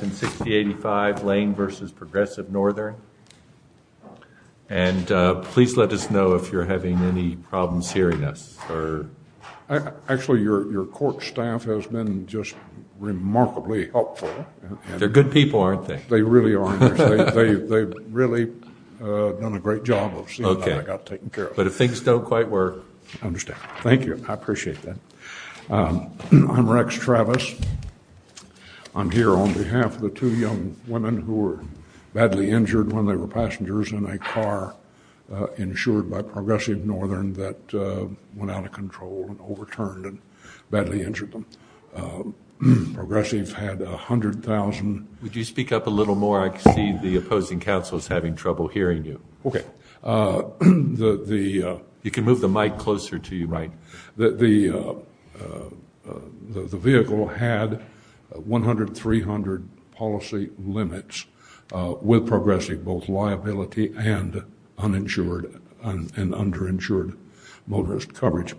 in 6085 Lane v. Progressive Northern. And please let us know if you're having any problems hearing us. Actually, your court staff has been just remarkably helpful. They're good people, aren't they? They really are. They've really done a great job of seeing how I got taken care of. But if things don't quite work... I understand. Thank you. I appreciate that. I'm Rex Travis. I'm here on behalf of the two young women who were badly injured when they were passengers in a car insured by Progressive Northern that went out of control and overturned and badly injured them. Progressive had 100,000... Would you speak up a little more? I can see the opposing counsel is having trouble hearing you. Okay. The... You can move the mic closer to you. Right. The vehicle had 100-300 policy limits with Progressive, both liability and uninsured and underinsured motorist coverage.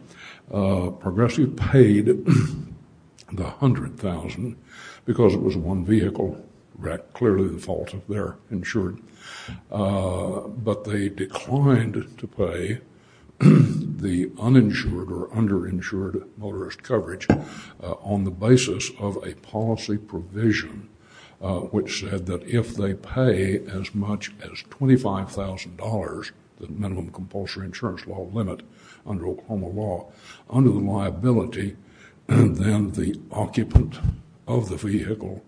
Progressive paid the 100,000 because it was uninsured or underinsured motorist coverage on the basis of a policy provision which said that if they pay as much as $25,000, the minimum compulsory insurance law limit under Oklahoma law, under the liability, then the occupant of the vehicle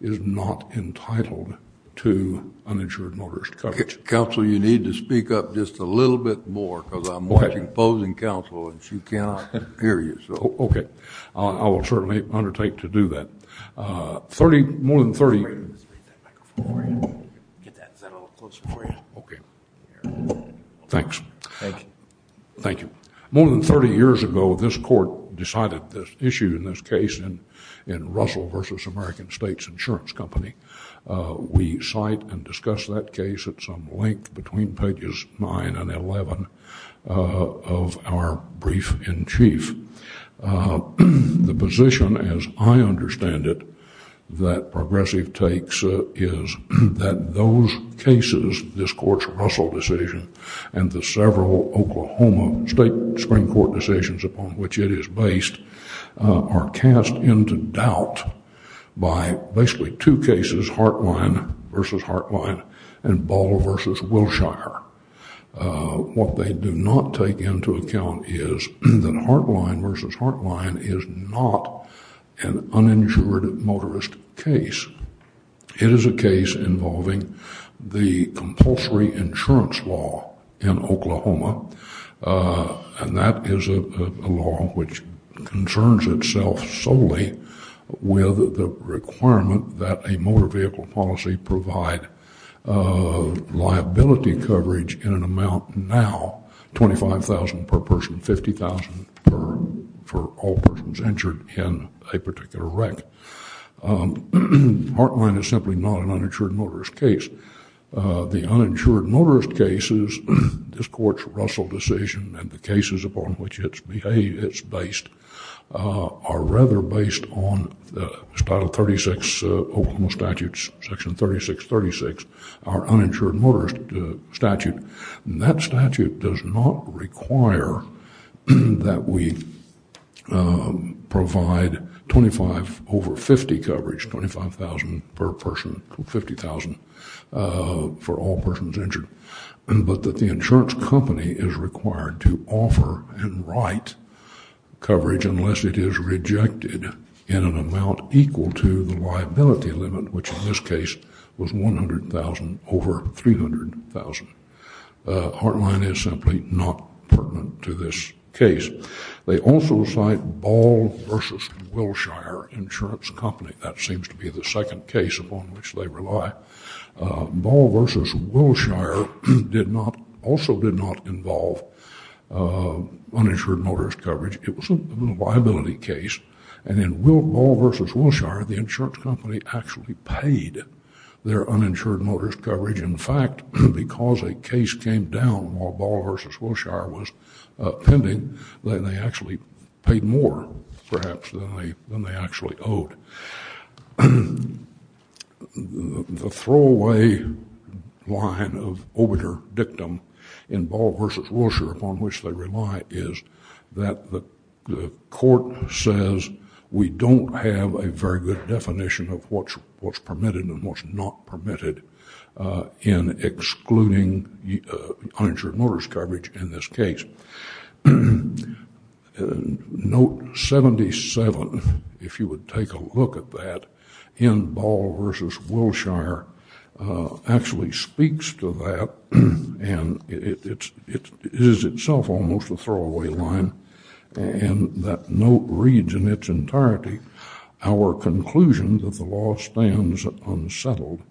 is not entitled to uninsured motorist coverage. Counsel, you need to speak up just a little bit more because I'm watching the opposing counsel and she cannot hear you. Okay. I will certainly undertake to do that. More than thirty years ago, this court decided this issue in this case in Russell versus American States Insurance Company. We cite and discuss that case at some length between pages 9 and 11 of our brief in chief. The position, as I understand it, that Progressive takes is that those cases, this court's Russell decision and the several Oklahoma state Supreme Court decisions upon which it is based, are cast into doubt by basically two cases, Heartline versus Heartline and Ball versus Wilshire. What they do not take into account is that Heartline versus Heartline is not an uninsured motorist case. It is a case involving the compulsory insurance law in Oklahoma and that is a law which concerns itself solely with the requirement that a motor vehicle policy provide liability coverage in an amount now $25,000 per person, $50,000 for all persons injured in a particular wreck. Heartline is simply not an uninsured motorist case. The uninsured motorist cases, this court's Russell decision and the cases upon which it is based are rather based on the Title 36 Oklahoma statutes, Section 3636, our uninsured motorist statute. That statute does not require that we provide 25 over 50 coverage, $25,000 per person, $50,000 for all persons injured, but that the insurance company is required to offer and write coverage unless it is rejected in an amount equal to the liability limit, which in this case was $100,000 over $300,000. Heartline is simply not pertinent to this case. They also cite Ball versus Wilshire insurance company. That seems to be the second case upon which they rely. Ball versus Wilshire also did not involve uninsured motorist coverage. It was a liability case. In Ball versus Wilshire, the insurance company actually paid their uninsured motorist coverage. In fact, because a case came down while Ball versus Wilshire was pending, then they actually paid more perhaps than they actually owed. The throwaway line of obiter dictum in Ball versus Wilshire upon which they rely is that the court says we don't have a very good definition of what's permitted and what's not permitted in excluding uninsured motorist coverage in this case. Note 77, if you would take a look at that, in Ball versus Wilshire actually speaks to that and it is itself almost a throwaway line. That note reads in its entirety, our conclusion that the law stands unsettled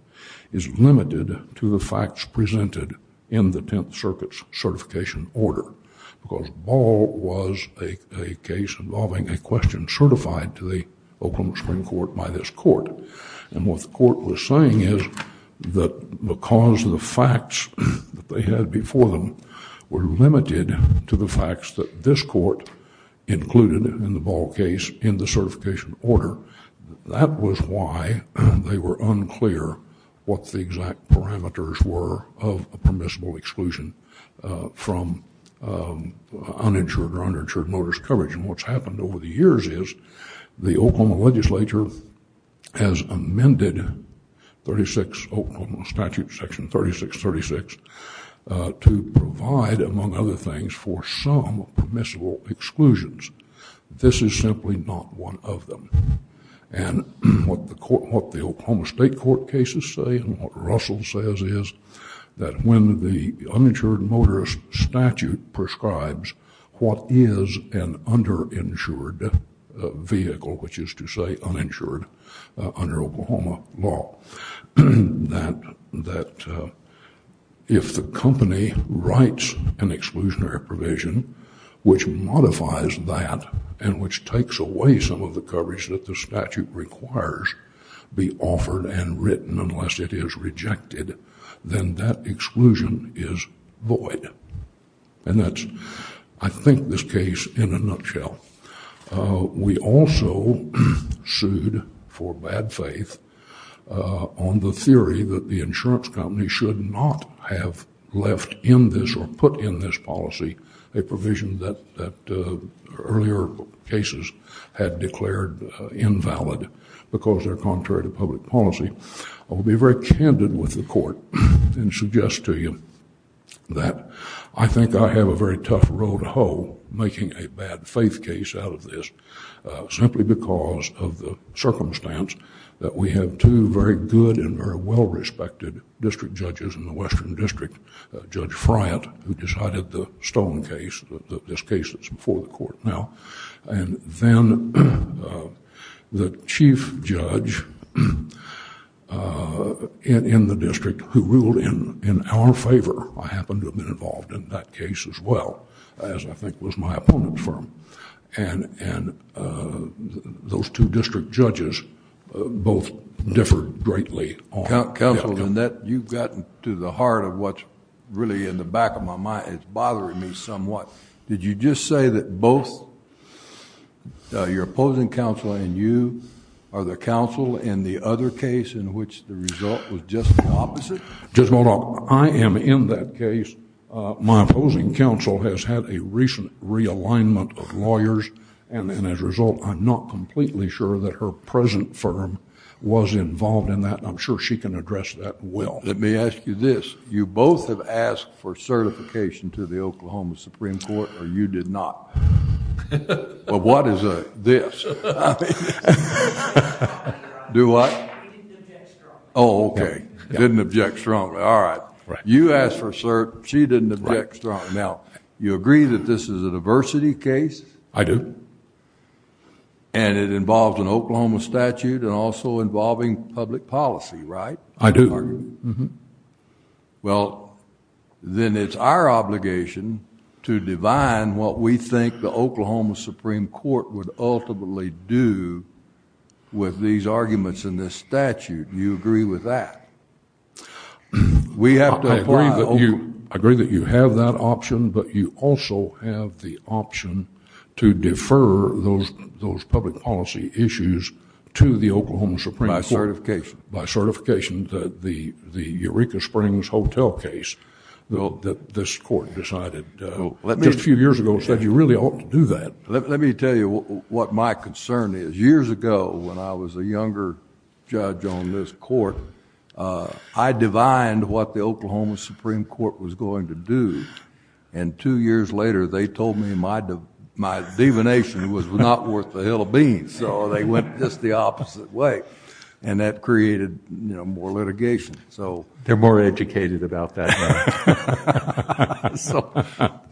is limited to the facts presented in the Tenth Circuit's certification order because Ball was a case involving a question certified to the Oakland Supreme Court by this court. What the court was saying is that because the facts that they had before them were limited to the facts that this court included in the Ball case in the certification order, that was why they were unclear what the exact parameters were of a permissible exclusion from uninsured or underinsured motorist coverage. What's happened over the years is the Oklahoma legislature has amended 36 Oklahoma statute section 3636 to provide among other things for some permissible exclusions. This is simply not one of them. What the Oklahoma State Court cases say and what Russell says is that when the uninsured motorist statute prescribes what is an underinsured vehicle, which is to say uninsured under Oklahoma law, that if the company writes an exclusionary provision which modifies that and which takes away some of the coverage that the statute requires be offered and written unless it is rejected, then that exclusion is void. I think this case in a nutshell. We also sued for bad faith on the theory that the insurance company should not have left in this or put in this policy a provision that earlier cases had declared invalid because they're contrary to public policy. I will be very candid with the court and suggest to you that I think I have a very tough road to hoe making a bad faith case out of this simply because of the circumstance that we have two very good and very well respected district judges in the western district, Judge Friant who decided the Stone case, this case that's before the court now, and then the chief judge in the district who ruled in our favor. I happen to have been involved in that case as well as I think was my opponent's firm. Those two district judges both differed greatly. Judge Goldoff. Counsel, you've gotten to the heart of what's really in the back of my mind. It's bothering me somewhat. Did you just say that both your opposing counsel and you are the counsel in the other case in which the result was just the opposite? Judge Goldoff, I am in that case. My opposing counsel has had a recent realignment of lawyers and as a result, I'm not completely sure that her present firm was involved in that. I'm sure she can address that well. Let me ask you this. You both have asked for certification to the Oklahoma Supreme Court or you did not? What is this? I didn't object strongly. Oh, okay. Didn't object strongly. All right. You asked for cert. She didn't object strongly. Now, you agree that this is a diversity case? I do. It involves an Oklahoma statute and also involving public policy, right? I do. Well, then it's our obligation to divine what we think the Oklahoma Supreme Court would ultimately do with these arguments in this statute. You agree with that? I agree that you have that option but you also have the option to defer those public policy issues to the Oklahoma Supreme Court. By certification. By certification. The Eureka Springs Hotel case that this court decided just a few years ago said you really ought to do that. Let me tell you what my concern is. Years ago when I was a younger judge on this court, I divined what the Oklahoma Supreme Court was going to do and two years later they told me my divination was not worth a hill of beans so they went just the opposite way and that created more litigation. They're more educated about that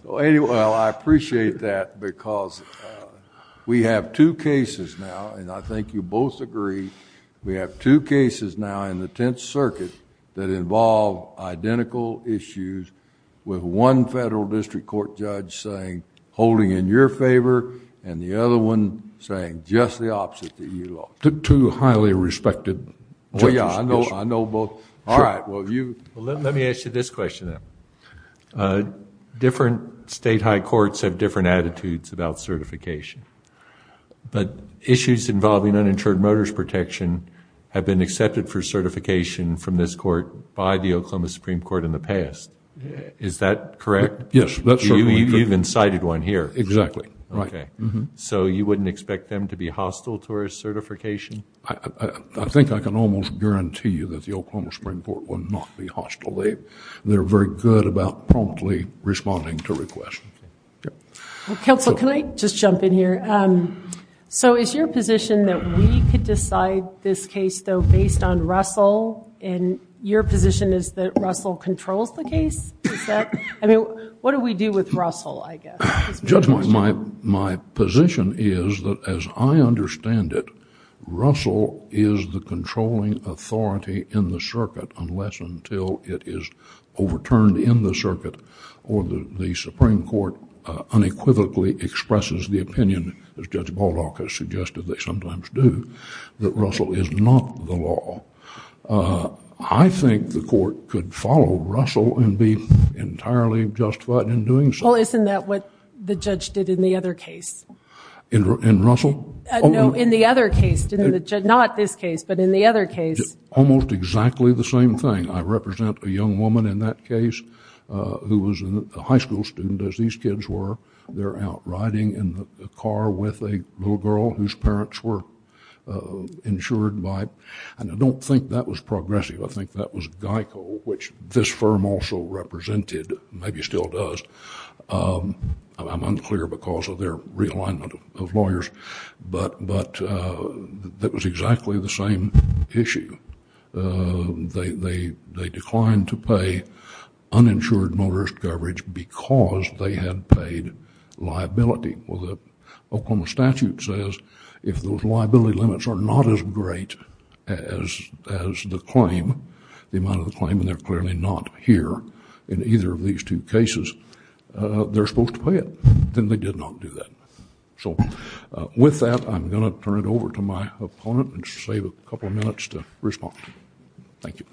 now. I appreciate that because we have two cases now and I think you both agree we have two cases now in the Tenth Circuit that involve identical issues with one federal district court judge saying holding in your favor and the other one saying just the opposite that you love. Two highly respected judges. I know both. All right, well you... Let me ask you this question then. Different state high courts have different attitudes about certification but issues involving uninsured motorist protection have been accepted for certification from this court by the Oklahoma Supreme Court in the past. Is that correct? Yes. You've incited one here. Exactly. Okay. So you wouldn't expect them to be hostile to our certification? I think I can almost guarantee you that the Oklahoma Supreme Court would not be hostile. They're very good about promptly responding to requests. Counsel, can I just jump in here? So is your position that we could decide this case though based on Russell and your position is that Russell controls the case? What do we do with Russell, I guess? Judge, my position is that as I understand it, Russell is the controlling authority in the circuit unless until it is overturned in the circuit or the Supreme Court unequivocally expresses the opinion, as Judge Baldock has suggested they sometimes do, that Russell is not the law. I think the court could follow Russell and be entirely justified in doing so. Well, isn't that what the judge did in the other case? In Russell? No, in the other case. Not this case, but in the other case. Almost exactly the same thing. I represent a young woman in that case who was a high school student as these kids were. They're out riding in the car with a little girl whose parents were insured by, and I don't think that was progressive. I think that was Geico, which this firm also represented, maybe still does. I'm unclear because of their realignment of lawyers, but that was exactly the same issue. They declined to pay uninsured motorist coverage because they had paid liability. Well, the Oklahoma statute says if those liability limits are not as great as the claim, the amount of the claim, and they're clearly not here in either of these two cases, they're supposed to pay it. Then they did not do that. With that, I'm going to turn it over to my opponent and save a couple of minutes to respond. Thank you.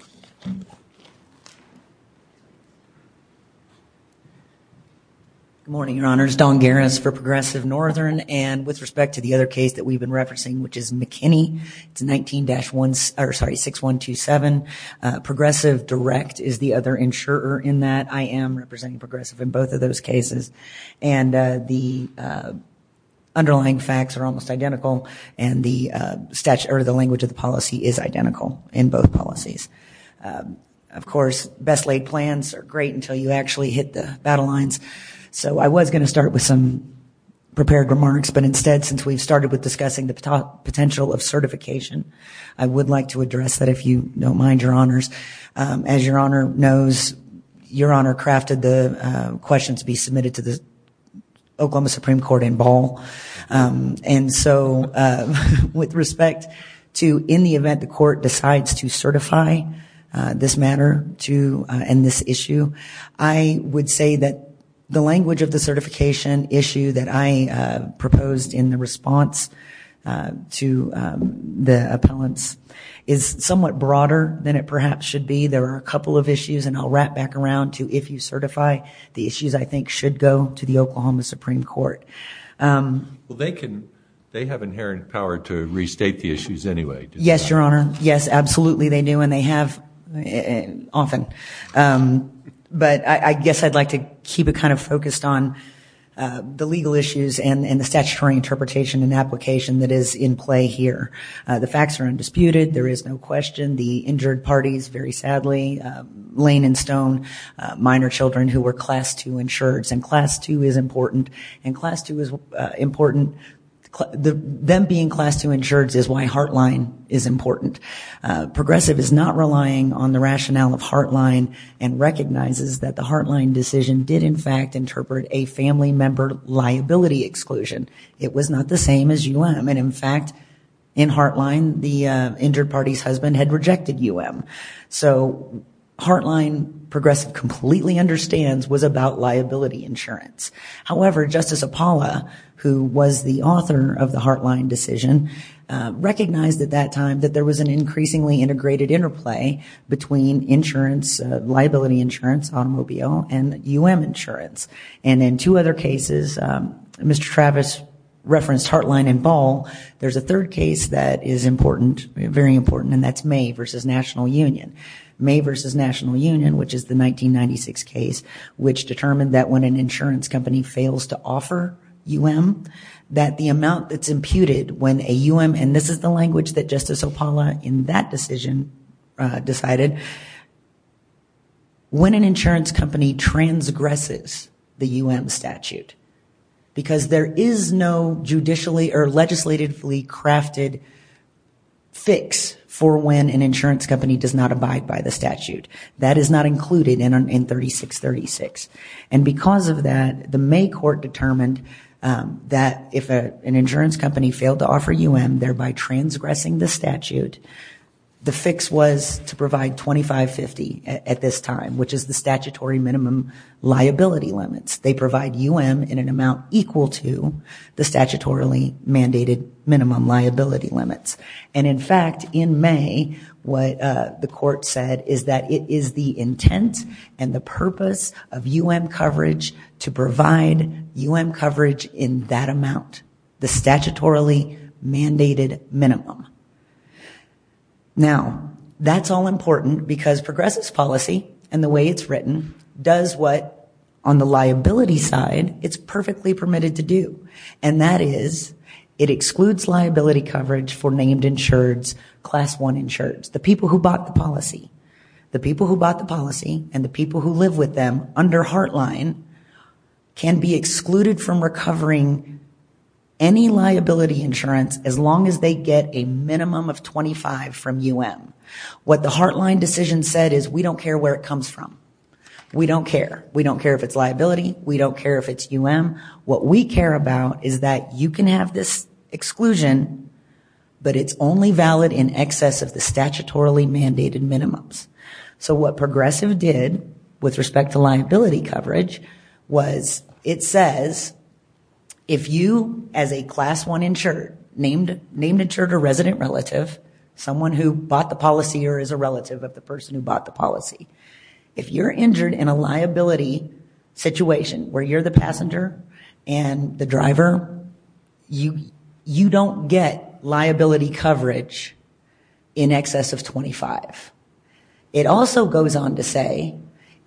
Good morning, Your Honors. Dawn Garris for Progressive Northern, and with respect to the other case that we've been referencing, which is McKinney, it's 19-6127. Progressive Direct is the other insurer in that. I am representing Progressive in both of those cases. The underlying facts are almost identical, and the language of the policy is identical in both policies. Of course, best laid plans are great until you actually hit the battle lines. I was going to start with some prepared remarks, but instead, since we've started with discussing the potential of certification, I would like to address that if you don't mind, Your Honors. As Your Honor knows, Your Honor crafted the question to be submitted to the Oklahoma Supreme Court in Ball. With respect to in the event the court decides to certify this matter and this issue, I would say that the language of the certification issue that I proposed in the response to the appellants is somewhat broader than it perhaps should be. There are a couple of issues, and I'll wrap back around to if you certify, the issues I think should go to the Oklahoma Supreme Court. Well, they have inherent power to restate the issues anyway. Yes, Your Honor. Yes, absolutely they do, and they have often. But I guess I'd like to keep it kind of focused on the legal issues and the statutory interpretation and application that is in play here. The facts are undisputed. There is no question. The injured parties, very sadly. Lane and Stone, minor children who were Class II insured, and Class II is important. Them being Class II insured is why Heartline is important. Progressive is not relying on the rationale of Heartline and recognizes that the Heartline decision did, in fact, interpret a family member liability exclusion. It was not the same as UM. And, in fact, in Heartline, the injured party's husband had rejected UM. So Heartline, Progressive completely understands, was about liability insurance. However, Justice Apollo, who was the author of the Heartline decision, recognized at that time that there was an increasingly integrated interplay between insurance, liability insurance, automobile, and UM insurance. And in two other cases, Mr. Travis referenced Heartline and Ball. There's a third case that is important, very important, and that's May versus National Union. May versus National Union, which is the 1996 case, which determined that when an insurance company fails to offer UM, that the amount that's imputed when a UM, and this is the language that Justice Apollo in that decision decided, when an insurance company transgresses the UM statute, because there is no judicially or legislatively crafted fix for when an insurance company does not abide by the statute. That is not included in 3636. And because of that, the May court determined that if an insurance company failed to offer UM, thereby transgressing the statute, the fix was to provide 2550 at this time, which is the statutory minimum liability limits. They provide UM in an amount equal to the statutorily mandated minimum liability limits. And in fact, in May, what the court said is that it is the intent and the purpose of UM coverage to provide UM coverage in that amount, the statutorily mandated minimum. Now, that's all important because progressives' policy and the way it's written does what, on the liability side, it's perfectly permitted to do. And that is it excludes liability coverage for named insureds, Class I insureds, the people who bought the policy. The people who bought the policy and the people who live with them under Heartline can be excluded from recovering any liability insurance as long as they get a minimum of 25 from UM. What the Heartline decision said is we don't care where it comes from. We don't care. We don't care if it's liability. We don't care if it's UM. What we care about is that you can have this exclusion, but it's only valid in excess of the statutorily mandated minimums. So what progressive did with respect to liability coverage was it says if you, as a Class I insured, named insured or resident relative, someone who bought the policy or is a relative of the person who bought the policy, if you're injured in a liability situation where you're the passenger and the driver, you don't get liability coverage in excess of 25. It also goes on to say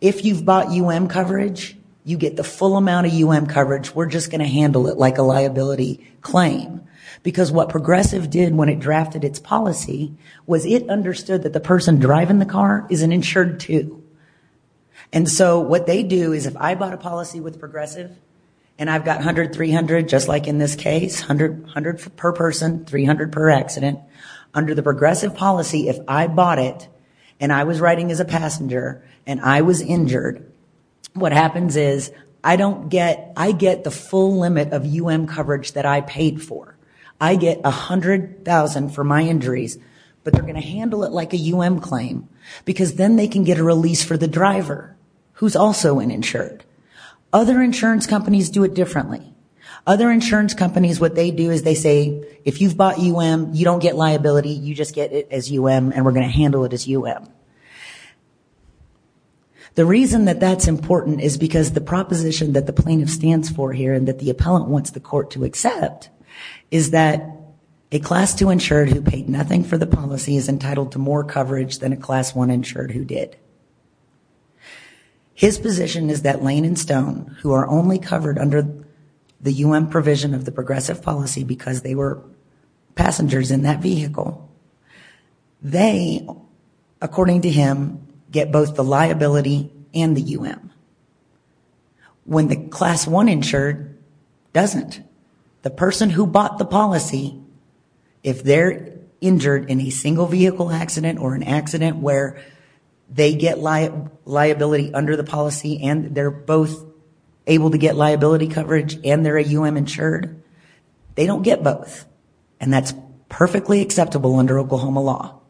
if you've bought UM coverage, you get the full amount of UM coverage. We're just going to handle it like a liability claim because what progressive did when it drafted its policy was it understood that the person driving the car is an insured too. And so what they do is if I bought a policy with progressive and I've got 100-300 just like in this case, 100 per person, 300 per accident, under the progressive policy if I bought it and I was riding as a passenger and I was injured, what happens is I get the full limit of UM coverage that I paid for. I get $100,000 for my injuries, but they're going to handle it like a UM claim because then they can get a release for the driver who's also an insured. Other insurance companies do it differently. Other insurance companies, what they do is they say if you've bought UM, you don't get liability, you just get it as UM and we're going to handle it as UM. The reason that that's important is because the proposition that the plaintiff stands for here and that the appellant wants the court to accept is that a class 2 insured who paid nothing for the policy is entitled to more coverage than a class 1 insured who did. His position is that Lane and Stone, who are only covered under the UM provision of the progressive policy because they were passengers in that vehicle, they, according to him, get both the liability and the UM. When the class 1 insured doesn't. The person who bought the policy, if they're injured in a single vehicle accident or an accident where they get liability under the policy and they're both able to get liability coverage and they're a UM insured, they don't get both and that's perfectly acceptable under Oklahoma law.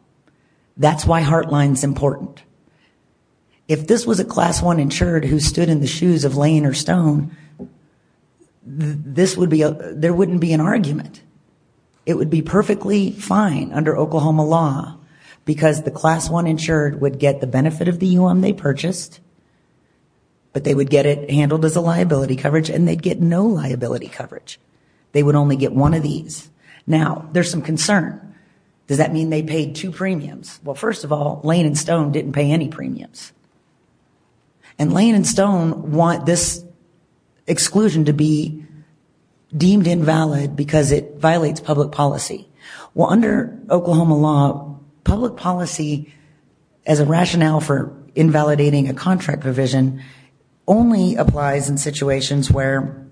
That's why Heartline's important. If this was a class 1 insured who stood in the shoes of Lane or Stone, there wouldn't be an argument. It would be perfectly fine under Oklahoma law because the class 1 insured would get the benefit of the UM they purchased but they would get it handled as a liability coverage and they'd get no liability coverage. They would only get one of these. Now, there's some concern. Does that mean they paid two premiums? Well, first of all, Lane and Stone didn't pay any premiums and Lane and Stone want this exclusion to be deemed invalid because it violates public policy. Well, under Oklahoma law, public policy as a rationale for invalidating a contract provision only applies in situations where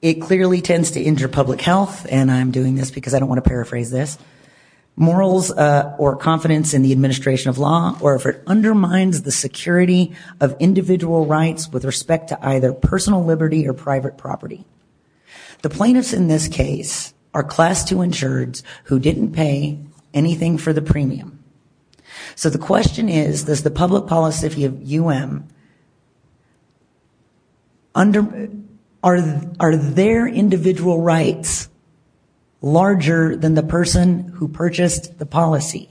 it clearly tends to injure public health and I'm doing this because I don't want to paraphrase this. Morals or confidence in the administration of law or if it undermines the security of individual rights with respect to either personal liberty or private property. The plaintiffs in this case are class 2 insureds who didn't pay anything for the premium. So the question is, does the public policy of UM under, are their individual rights larger than the person who purchased the policy?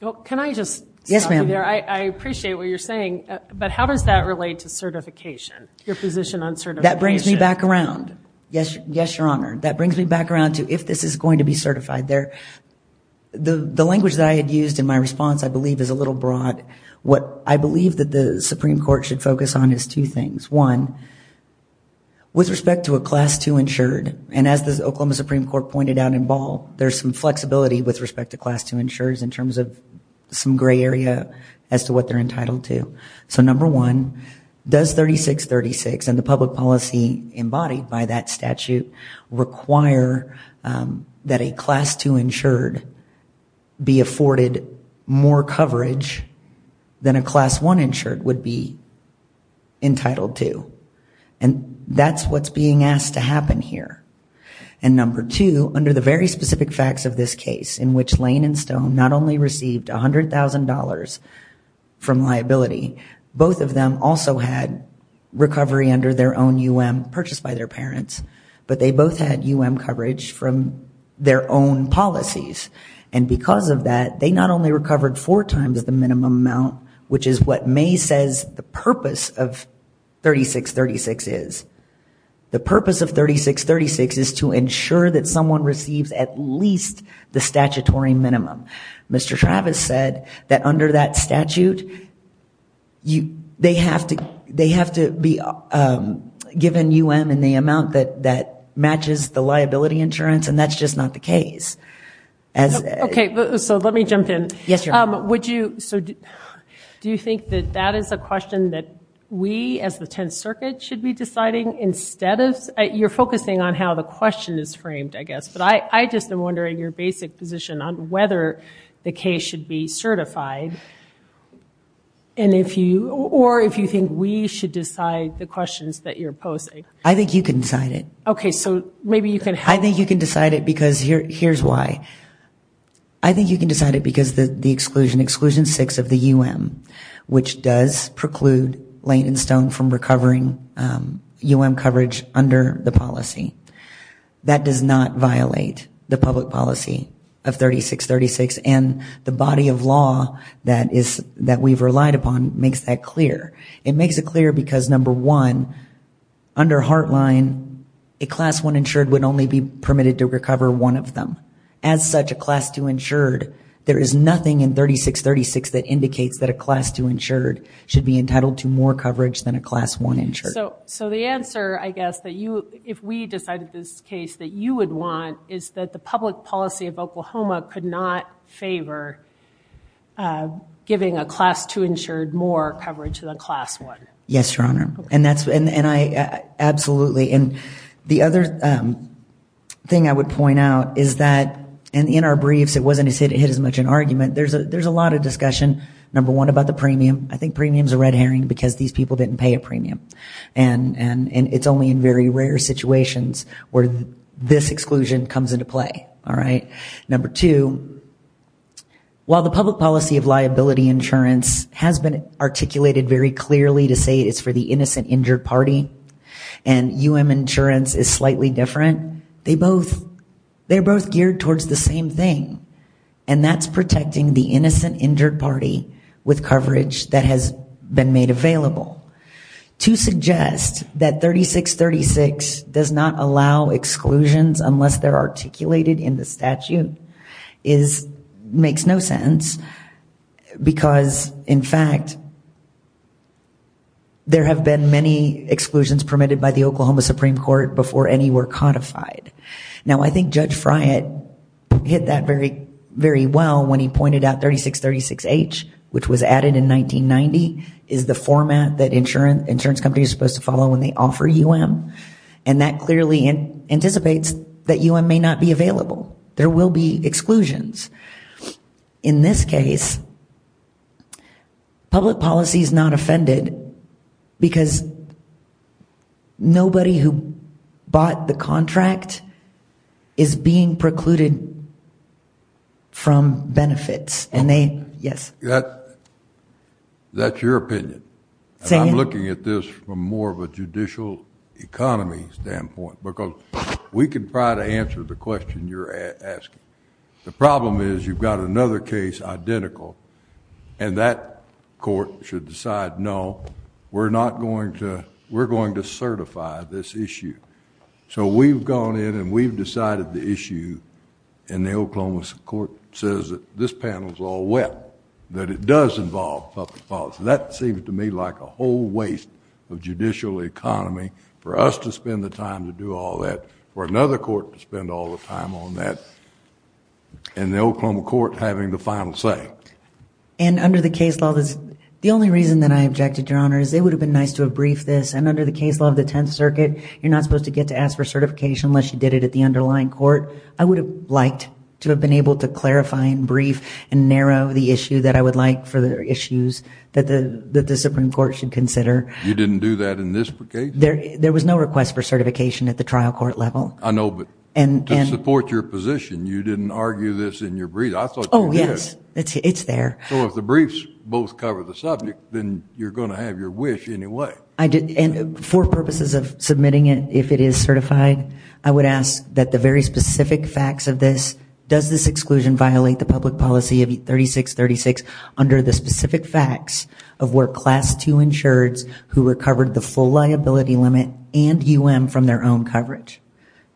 Well, can I just stop you there? Yes, ma'am. I appreciate what you're saying but how does that relate to certification? Your position on certification. That brings me back around. Yes, your honor. That brings me back around to if this is going to be certified. The language that I had used in my response I believe is a little broad. What I believe that the Supreme Court should focus on is two things. One, with respect to a class 2 insured, and as the Oklahoma Supreme Court pointed out in Ball, there's some flexibility with respect to class 2 insureds in terms of some gray area as to what they're entitled to. So number one, does 3636 and the public policy embodied by that statute require that a class 2 insured be afforded more coverage than a class 1 insured would be entitled to? And that's what's being asked to happen here. And number two, under the very specific facts of this case in which Lane and Stone not only received $100,000 from liability, both of them also had recovery under their own UM purchased by their parents, but they both had UM coverage from their own policies. And because of that, they not only recovered four times the minimum amount, which is what May says the purpose of 3636 is. The purpose of 3636 is to ensure that someone receives at least the statutory minimum. Mr. Travis said that under that statute, they have to be given UM in the amount that matches the liability insurance, and that's just not the case. Okay, so let me jump in. Yes, Your Honor. Do you think that that is a question that we as the Tenth Circuit should be deciding instead of? You're focusing on how the question is framed, I guess. But I just am wondering your basic position on whether the case should be certified, or if you think we should decide the questions that you're posing. I think you can decide it. Okay, so maybe you can help. I think you can decide it because here's why. I think you can decide it because the exclusion, Exclusion 6 of the UM, which does preclude Lane and Stone from recovering UM coverage under the policy. That does not violate the public policy of 3636, and the body of law that we've relied upon makes that clear. It makes it clear because, number one, under Heartline, a Class 1 insured would only be permitted to recover one of them. As such, a Class 2 insured, there is nothing in 3636 that indicates that a Class 2 insured should be entitled to more coverage than a Class 1 insured. So the answer, I guess, if we decided this case that you would want, is that the public policy of Oklahoma could not favor giving a Class 2 insured more coverage than a Class 1. Yes, Your Honor. Absolutely. And the other thing I would point out is that in our briefs, it wasn't as hit as much an argument. There's a lot of discussion, number one, about the premium. I think premium is a red herring because these people didn't pay a premium. And it's only in very rare situations where this exclusion comes into play. All right? Number two, while the public policy of liability insurance has been articulated very clearly to say it's for the innocent injured party and UM insurance is slightly different, they're both geared towards the same thing, and that's protecting the innocent injured party with coverage that has been made available. To suggest that 3636 does not allow exclusions unless they're articulated in the statute makes no sense because, in fact, there have been many exclusions permitted by the Oklahoma Supreme Court before any were codified. Now, I think Judge Friant hit that very well when he pointed out 3636H, which was added in 1990, is the format that insurance companies are supposed to follow when they offer UM, and that clearly anticipates that UM may not be available. There will be exclusions. In this case, public policy is not offended because nobody who bought the contract is being precluded from benefits, and they... Yes? That's your opinion. I'm looking at this from more of a judicial economy standpoint because we can try to answer the question you're asking. The problem is you've got another case identical, and that court should decide, no, we're going to certify this issue. So we've gone in and we've decided the issue, and the Oklahoma court says that this panel is all wet, that it does involve public policy. That seems to me like a whole waste of judicial economy for us to spend the time to do all that or another court to spend all the time on that, and the Oklahoma court having the final say. Under the case law, the only reason that I objected, Your Honor, is it would have been nice to have briefed this, and under the case law of the Tenth Circuit, you're not supposed to get to ask for certification unless you did it at the underlying court. I would have liked to have been able to clarify and brief and narrow the issue that I would like for the issues that the Supreme Court should consider. You didn't do that in this case? There was no request for certification at the trial court level. I know, but to support your position, you didn't argue this in your brief. I thought you did. Oh, yes, it's there. So if the briefs both cover the subject, then you're going to have your wish anyway. And for purposes of submitting it, if it is certified, I would ask that the very specific facts of this, does this exclusion violate the public policy of 3636 under the specific facts of where Class II insureds who recovered the full liability limit and UM from their own coverage?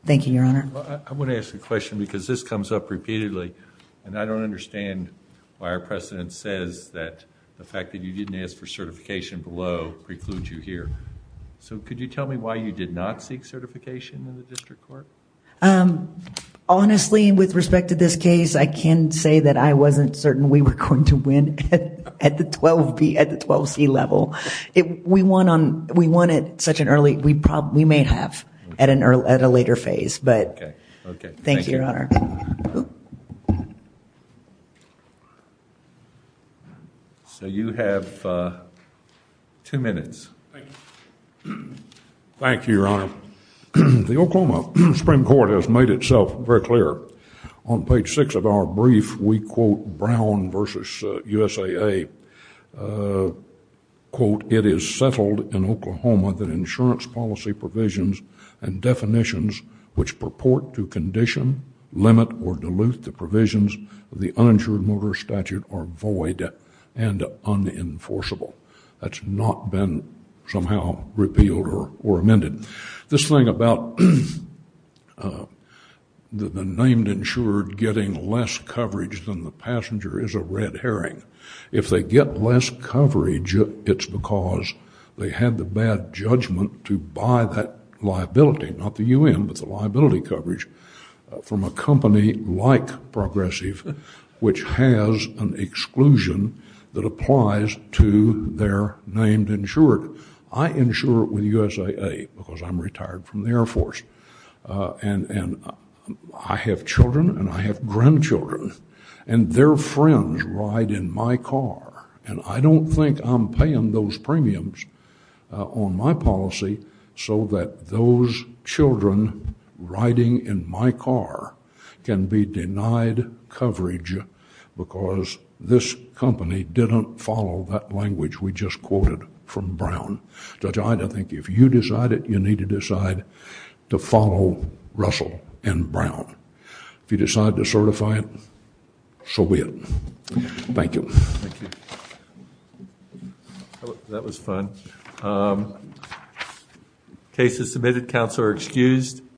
Thank you, Your Honor. I want to ask a question because this comes up repeatedly and I don't understand why our precedent says that the fact that you didn't ask for certification below precludes you here. So could you tell me why you did not seek certification in the district court? Honestly, with respect to this case, I can say that I wasn't certain we were going to win at the 12C level. We won at such an early, we may have at a later phase. But thank you, Your Honor. So you have two minutes. Thank you, Your Honor. The Oklahoma Supreme Court has made itself very clear. On page six of our brief, we quote Brown versus USAA quote, it is settled in Oklahoma that insurance policy provisions and definitions which purport to condition, limit, or dilute the provisions of the uninsured motor statute are void and unenforceable. That's not been somehow repealed or amended. This thing about the named insured getting less coverage than the passenger is a red herring. If they get less coverage, it's because they had the bad judgment to buy that liability, not the UN, but the liability coverage from a company like Progressive, which has an exclusion that applies to their named insured. I insure with USAA because I'm retired from the Air Force. And I have children and I have grandchildren. And their friends ride in my car. And I don't think I'm paying those premiums on my policy so that those children riding in my car can be denied coverage because this company didn't follow that language we just quoted from Brown. Judge Ida, I think if you decide it, you need to decide to follow Russell and Brown. If you decide to certify it, so be it. Thank you. Thank you. That was fun. Case is submitted. Counsel are excused.